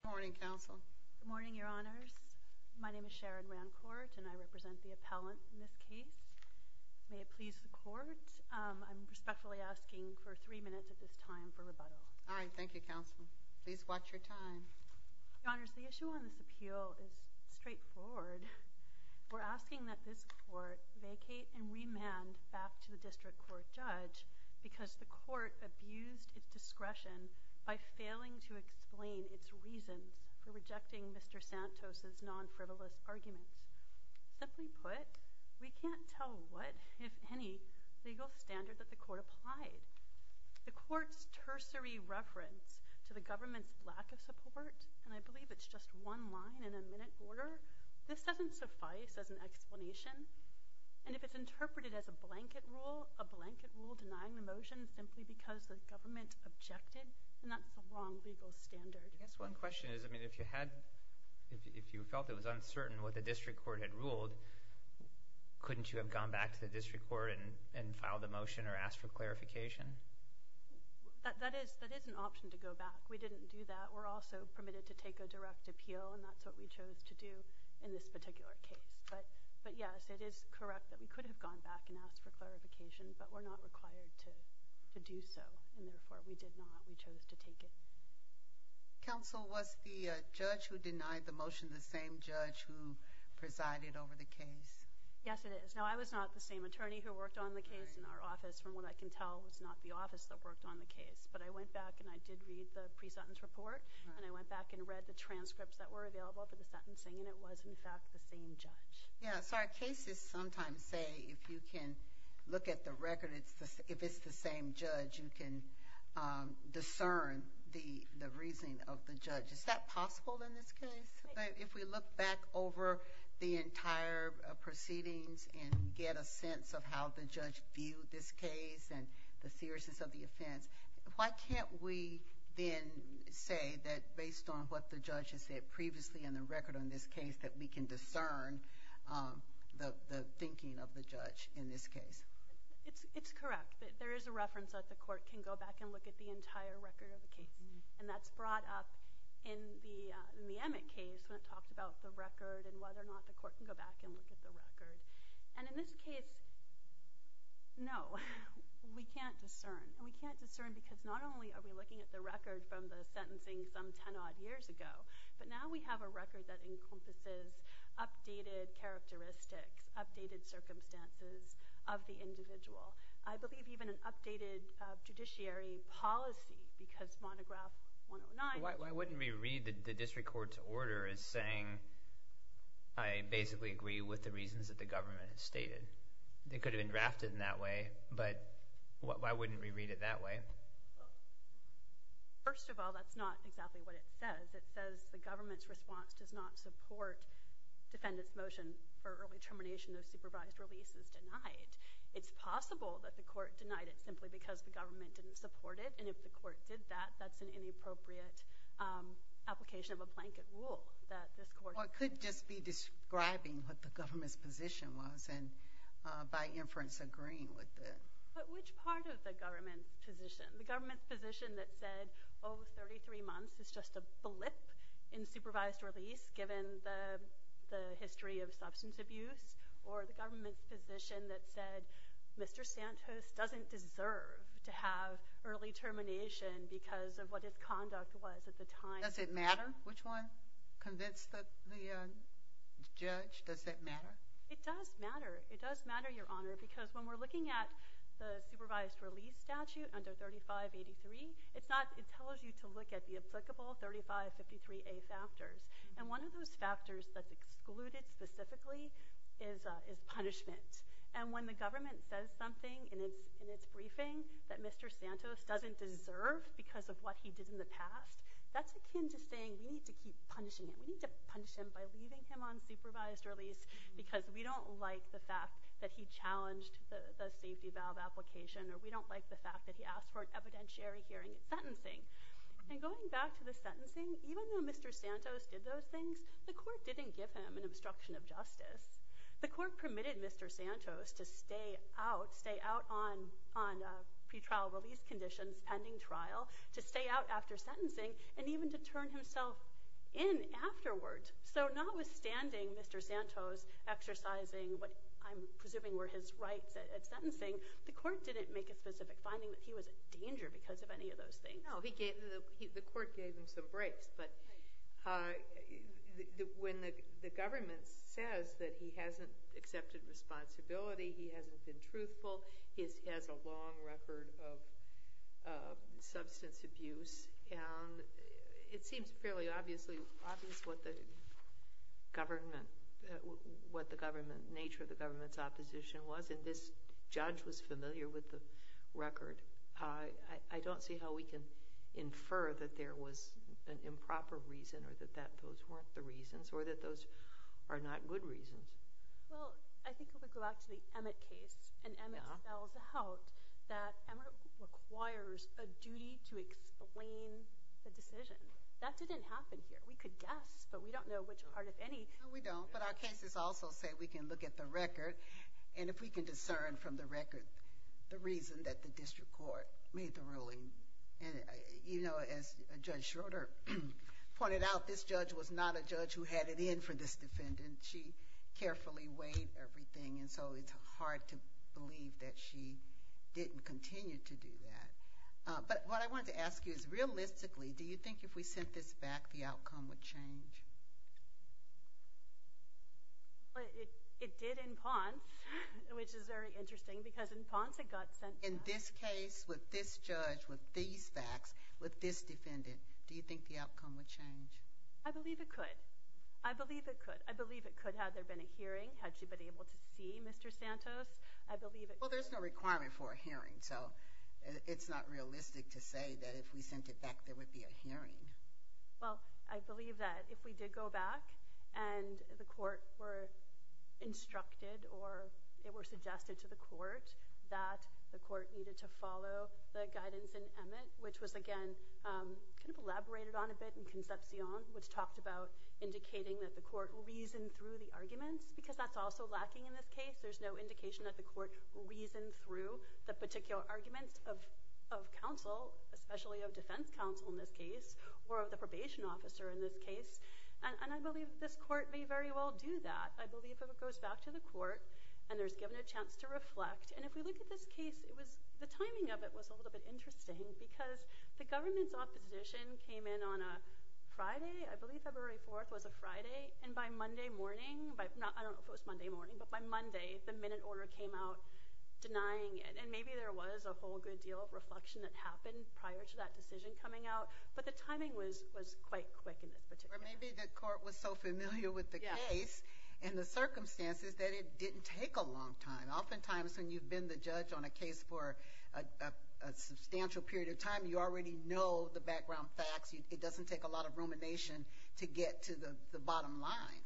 Good morning, Your Honors. My name is Sharon Rancourt, and I represent the appellant in this case. May it please the Court, I'm respectfully asking for three minutes at this time for rebuttal. All right, thank you, Counsel. Please watch your time. Your Honors, the issue on this appeal is straightforward. We're asking that this Court vacate and remand back to the District Court Judge because the Court abused its discretion by failing to explain its reasons for rejecting Mr. Santos' non-frivolous arguments. Simply put, we can't tell what, if any, legal standard that the Court applied. The Court's tertiary reference to the government's lack of support, and I believe it's just one line in a minute order, this doesn't suffice as an explanation. And if it's interpreted as a blanket rule, a blanket rule denying the motion simply because the government objected, then that's the wrong legal standard. I guess one question is, if you felt it was uncertain what the District Court had ruled, couldn't you have gone back to the District Court and filed a motion or asked for clarification? That is an option to go back. We didn't do that. We're also permitted to take a direct appeal, and that's what we chose to do in this particular case. But yes, it is correct that we could have gone back and asked for clarification, but we're not required to do so, and therefore we did not. We chose to take it. Counsel, was the judge who denied the motion the same judge who presided over the case? Yes, it is. Now, I was not the same attorney who worked on the case, and our office, from what I can tell, was not the office that worked on the case. But I went back and I did read the pre-sentence report, and I went back and read the transcripts that were available for the sentencing, and it was, in fact, the same judge. Yes, our cases sometimes say if you can look at the record, if it's the same judge, you can discern the reasoning of the judge. Is that possible in this case? If we look back over the entire proceedings and get a sense of how the judge viewed this case and the seriousness of the offense, why can't we then say that based on what the judge has said previously in the record on this case that we can discern the thinking of the judge in this case? It's correct that there is a reference that the court can go back and look at the entire record of the case, and that's brought up in the Emmett case when it talks about the record and whether or not the court can go back and look at the record. In this case, no, we can't discern. We can't discern because not only are we looking at the record from the sentencing some ten-odd years ago, but now we have a record that encompasses updated characteristics, updated circumstances of the individual. I believe even an updated judiciary policy because monograph 109— Why wouldn't we read the district court's order as saying, I basically agree with the reasons that the government has stated? It could have been drafted in that way, but why wouldn't we read it that way? First of all, that's not exactly what it says. It says the government's response does not support defendant's motion for early termination of supervised release is denied. It's possible that the court denied it simply because the government didn't support it, and if the court did that, that's an inappropriate application of a blanket rule that this court— Or it could just be describing what the government's position was and by inference agreeing with it. But which part of the government's position? The government's position that said, oh, 33 months is just a blip in supervised release given the history of substance abuse? Or the government's position that said, Mr. Santos doesn't deserve to have early termination because of what his conduct was at the time? Does it matter which one convinced the judge? Does that matter? It does matter. It does matter, Your Honor, because when we're looking at the supervised release statute under 3583, it tells you to look at the applicable 3553A factors, and one of those factors that's excluded specifically is punishment. And when the government says something in its briefing that Mr. Santos doesn't deserve because of what he did in the past, that's akin to saying we need to keep punishing him. We need to punish him by leaving him on supervised release because we don't like the fact that he challenged the safety valve application or we don't like the fact that he asked for an evidentiary hearing sentencing. And going back to the sentencing, even though Mr. Santos did those things, the court didn't give him an obstruction of justice. The court permitted Mr. Santos to stay out, stay out on pretrial release conditions, pending trial, to stay out after sentencing and even to turn himself in afterwards. So notwithstanding Mr. Santos exercising what I'm presuming were his rights at sentencing, the court didn't make a specific finding that he was in danger because of any of those things. No, the court gave him some breaks. But when the government says that he hasn't accepted responsibility, he hasn't been truthful, he has a long record of substance abuse and it seems fairly obvious what the government, what the nature of the government's opposition was and this judge was familiar with the record. I don't see how we can infer that there was an improper reason or that those weren't the reasons or that those are not good reasons. Well, I think it would go back to the Emmett case and Emmett spells out that Emmett requires a duty to explain the decision. That didn't happen here. We could guess, but we don't know which part of any— No, we don't, but our cases also say we can look at the record and if we can discern from the record the reason that the district court made the ruling. And, you know, as Judge Schroeder pointed out, this judge was not a judge who had it in for this defendant. And she carefully weighed everything and so it's hard to believe that she didn't continue to do that. But what I wanted to ask you is realistically, do you think if we sent this back the outcome would change? It did in Ponce, which is very interesting because in Ponce it got sent back. In this case, with this judge, with these facts, with this defendant, do you think the outcome would change? I believe it could. I believe it could. I believe it could had there been a hearing, had she been able to see Mr. Santos. I believe it— Well, there's no requirement for a hearing, so it's not realistic to say that if we sent it back there would be a hearing. Well, I believe that if we did go back and the court were instructed or they were suggested to the court that the court needed to follow the guidance in Emmett, which was, again, kind of elaborated on a bit in Concepcion, which talked about indicating that the court reasoned through the arguments because that's also lacking in this case. There's no indication that the court reasoned through the particular arguments of counsel, especially of defense counsel in this case or of the probation officer in this case. And I believe this court may very well do that. I believe if it goes back to the court and there's given a chance to reflect— and if we look at this case, the timing of it was a little bit interesting because the government's opposition came in on a Friday. I believe February 4th was a Friday. And by Monday morning—I don't know if it was Monday morning, but by Monday the minute order came out denying it. And maybe there was a whole good deal of reflection that happened prior to that decision coming out, but the timing was quite quick in this particular case. Or maybe the court was so familiar with the case and the circumstances that it didn't take a long time. Oftentimes when you've been the judge on a case for a substantial period of time, you already know the background facts. It doesn't take a lot of rumination to get to the bottom line.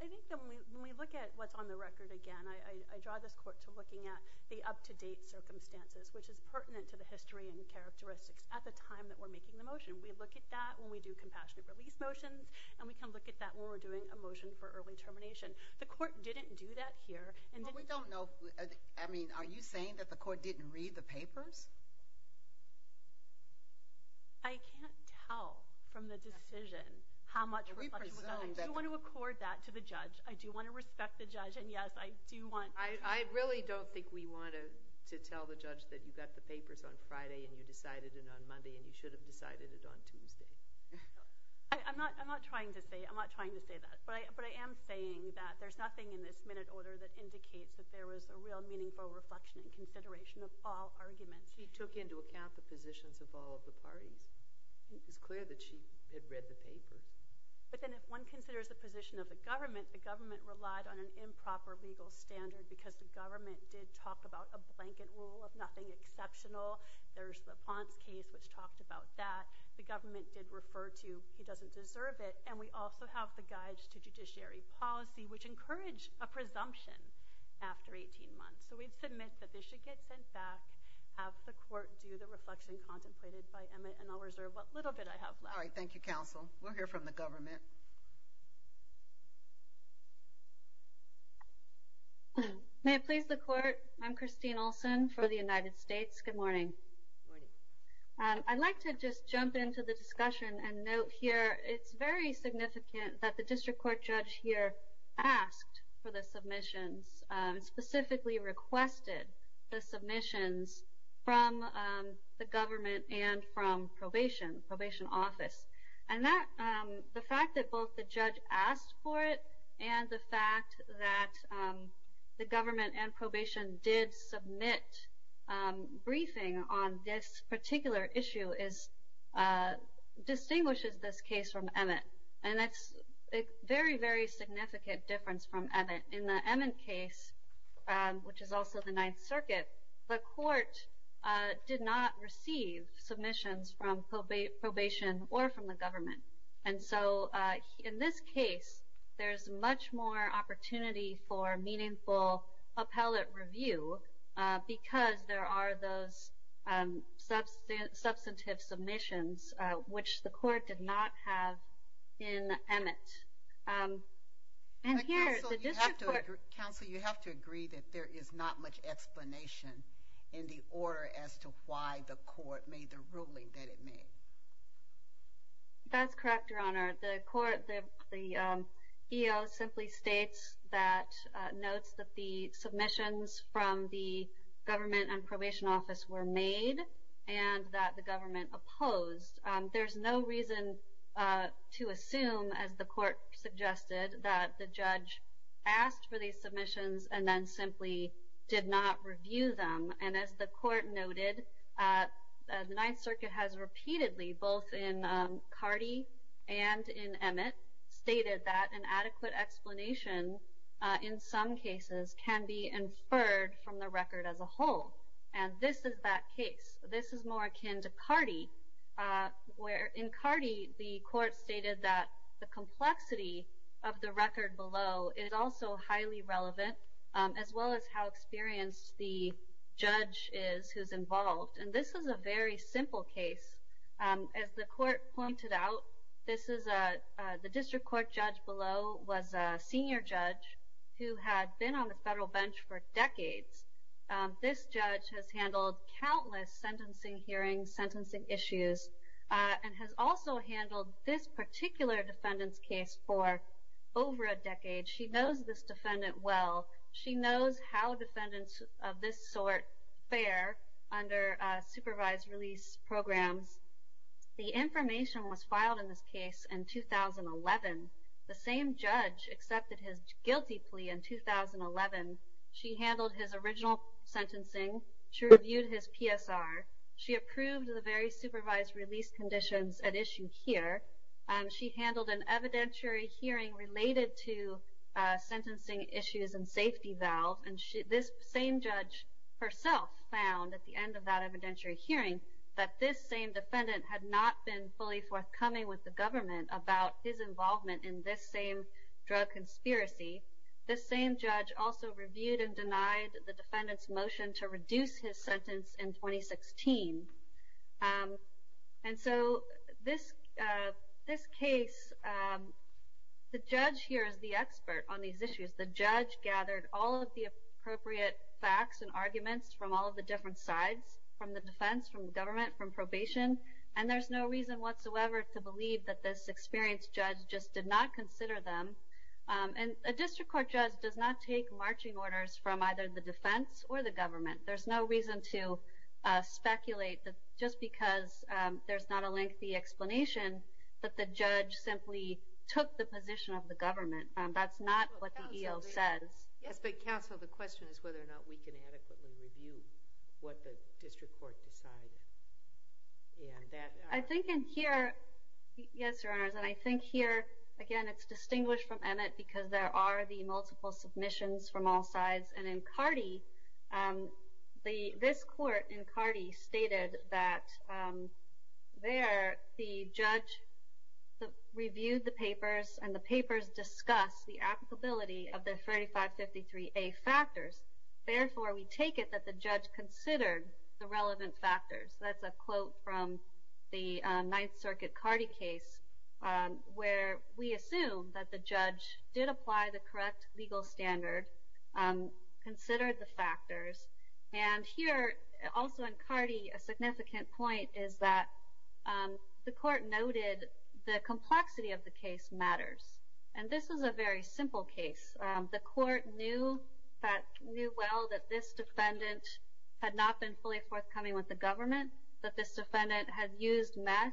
I think that when we look at what's on the record again, I draw this court to looking at the up-to-date circumstances, which is pertinent to the history and characteristics at the time that we're making the motion. We look at that when we do compassionate release motions, and we can look at that when we're doing a motion for early termination. The court didn't do that here. We don't know. I mean, are you saying that the court didn't read the papers? I can't tell from the decision how much reflection we got. I do want to accord that to the judge. I do want to respect the judge. And, yes, I do want— I really don't think we wanted to tell the judge that you got the papers on Friday and you decided it on Monday and you should have decided it on Tuesday. I'm not trying to say that. But I am saying that there's nothing in this minute order that indicates that there was a real meaningful reflection and consideration of all arguments. He took into account the positions of all of the parties. It was clear that she had read the paper. But then if one considers the position of the government, the government relied on an improper legal standard because the government did talk about a blanket rule of nothing exceptional. There's the Ponce case, which talked about that. The government did refer to he doesn't deserve it. And we also have the Guides to Judiciary Policy, which encouraged a presumption after 18 months. So we submit that this should get sent back. Have the court do the reflection contemplated by Emmett, and I'll reserve what little bit I have left. All right. Thank you, counsel. We'll hear from the government. May it please the court? I'm Christine Olson for the United States. Good morning. Good morning. I'd like to just jump into the discussion and note here it's very significant that the district court judge here asked for the submissions, specifically requested the submissions from the government and from probation, probation office. And the fact that both the judge asked for it and the fact that the government and probation did submit briefing on this particular issue distinguishes this case from Emmett. And that's a very, very significant difference from Emmett. In the Emmett case, which is also the Ninth Circuit, the court did not receive submissions from probation or from the government. And so in this case, there's much more opportunity for meaningful appellate review because there are those substantive submissions, which the court did not have in Emmett. Counsel, you have to agree that there is not much explanation in the order as to why the court made the ruling that it made. That's correct, Your Honor. The EO simply states that, notes that the submissions from the government and probation office were made and that the government opposed. There's no reason to assume, as the court suggested, that the judge asked for these submissions and then simply did not review them. And as the court noted, the Ninth Circuit has repeatedly, both in Cardee and in Emmett, stated that an adequate explanation in some cases can be inferred from the record as a whole. And this is that case. This is more akin to Cardee, where in Cardee, the court stated that the complexity of the record below is also highly relevant, as well as how experienced the judge is who's involved. And this is a very simple case. As the court pointed out, the district court judge below was a senior judge who had been on the federal bench for decades. This judge has handled countless sentencing hearings, sentencing issues, and has also handled this particular defendant's case for over a decade. She knows this defendant well. She knows how defendants of this sort fare under supervised release programs. The information was filed in this case in 2011. The same judge accepted his guilty plea in 2011. She handled his original sentencing. She reviewed his PSR. She approved the very supervised release conditions at issue here. She handled an evidentiary hearing related to sentencing issues and safety valve. And this same judge herself found, at the end of that evidentiary hearing, that this same defendant had not been fully forthcoming with the government about his involvement in this same drug conspiracy. This same judge also reviewed and denied the defendant's motion to reduce his sentence in 2016. And so this case, the judge here is the expert on these issues. The judge gathered all of the appropriate facts and arguments from all of the different sides, from the defense, from the government, from probation, and there's no reason whatsoever to believe that this experienced judge just did not consider them. And a district court judge does not take marching orders from either the defense or the government. There's no reason to speculate just because there's not a lengthy explanation that the judge simply took the position of the government. That's not what the EO says. Yes, but counsel, the question is whether or not we can adequately review what the district court decided. I think in here, yes, Your Honors, and I think here, again, it's distinguished from Emmett because there are the multiple submissions from all sides. And in Cardi, this court in Cardi stated that there the judge reviewed the papers and the papers discussed the applicability of the 3553A factors. Therefore, we take it that the judge considered the relevant factors. That's a quote from the Ninth Circuit Cardi case where we assume that the judge did apply the correct legal standard and considered the factors. And here, also in Cardi, a significant point is that the court noted the complexity of the case matters. And this is a very simple case. The court knew well that this defendant had not been fully forthcoming with the government, that this defendant had used meth,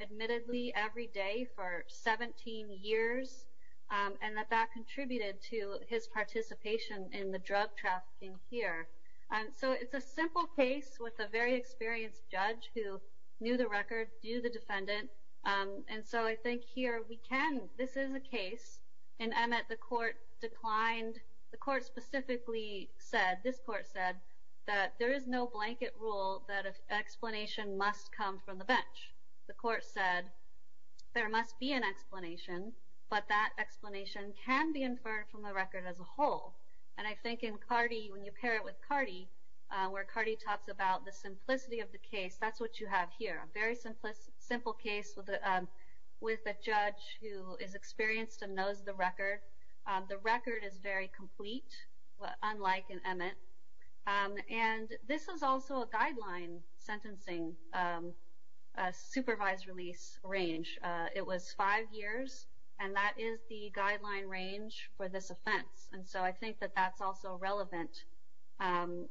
admittedly, every day for 17 years, and that that contributed to his participation in the drug trafficking here. And so it's a simple case with a very experienced judge who knew the record, knew the defendant. And so I think here we can. This is a case. In Emmett, the court declined. The court specifically said, this court said, that there is no blanket rule that an explanation must come from the bench. The court said, there must be an explanation, but that explanation can be inferred from the record as a whole. And I think in Cardi, when you pair it with Cardi, where Cardi talks about the simplicity of the case, that's what you have here, a very simple case with a judge who is experienced and knows the record. The record is very complete, unlike in Emmett. And this is also a guideline sentencing, a supervised release range. It was five years, and that is the guideline range for this offense. And so I think that that's also relevant. And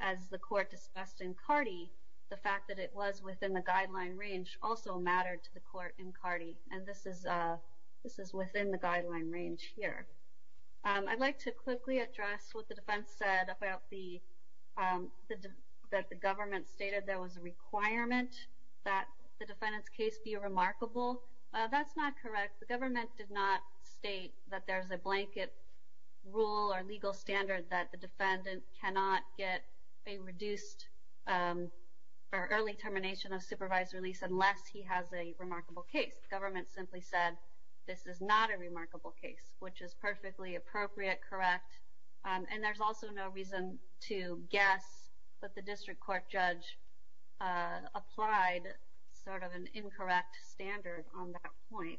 as the court discussed in Cardi, the fact that it was within the guideline range also mattered to the court in Cardi, and this is within the guideline range here. I'd like to quickly address what the defense said about the government stated there was a requirement that the defendant's case be remarkable. That's not correct. The government did not state that there's a blanket rule or legal standard that the defendant cannot get a reduced or early termination of supervised release unless he has a remarkable case. The government simply said this is not a remarkable case, which is perfectly appropriate, correct. And there's also no reason to guess that the district court judge applied sort of an incorrect standard on that point.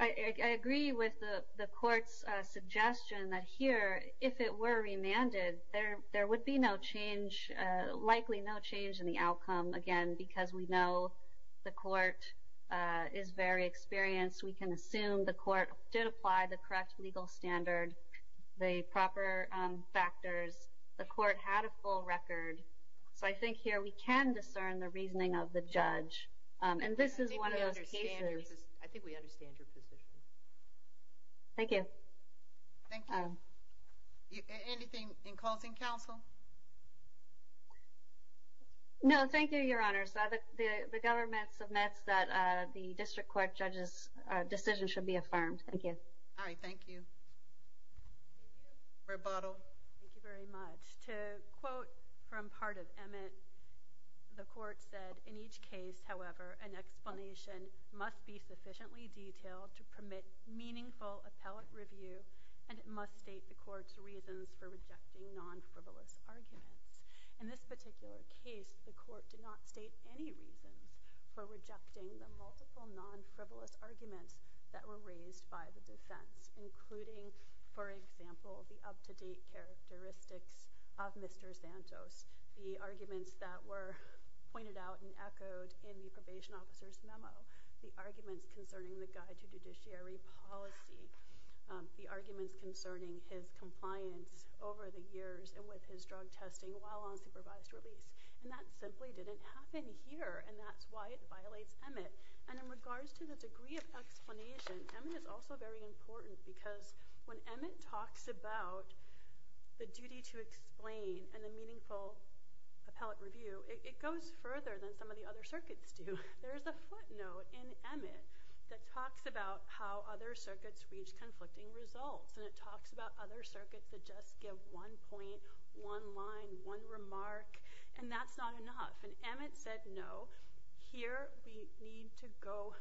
I agree with the court's suggestion that here, if it were remanded, there would be no change, likely no change in the outcome, again, because we know the court is very experienced. We can assume the court did apply the correct legal standard, the proper factors. The court had a full record. So I think here we can discern the reasoning of the judge, and this is one of those cases. I think we understand your position. Thank you. Thank you. Anything in closing, counsel? No. Thank you, Your Honor. The government submits that the district court judge's decision should be affirmed. Thank you. All right. Thank you. Rebuttal. Thank you very much. To quote from part of Emmett, the court said, in each case, however, an explanation must be sufficiently detailed to permit meaningful appellate review, and it must state the court's reasons for rejecting non-frivolous arguments. In this particular case, the court did not state any reasons for rejecting the multiple non-frivolous arguments that were raised by the defense, including, for example, the up-to-date characteristics of Mr. Santos, the arguments that were pointed out and echoed in the probation officer's memo, the arguments concerning the guide to judiciary policy, the arguments concerning his compliance over the years and with his drug testing while on supervised release. And that simply didn't happen here, and that's why it violates Emmett. And in regards to the degree of explanation, Emmett is also very important because when Emmett talks about the duty to explain and the meaningful appellate review, it goes further than some of the other circuits do. There is a footnote in Emmett that talks about how other circuits reach conflicting results, and it talks about other circuits that just give one point, one line, one remark, and that's not enough. And Emmett said, no, here we need to go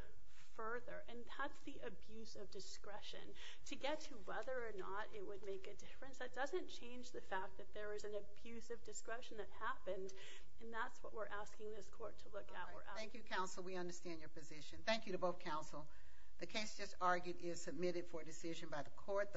further, and that's the abuse of discretion. To get to whether or not it would make a difference, that doesn't change the fact that there is an abuse of discretion that happened, and that's what we're asking this court to look at. Thank you, counsel. We understand your position. Thank you to both counsel. The case just argued is submitted for decision by the court.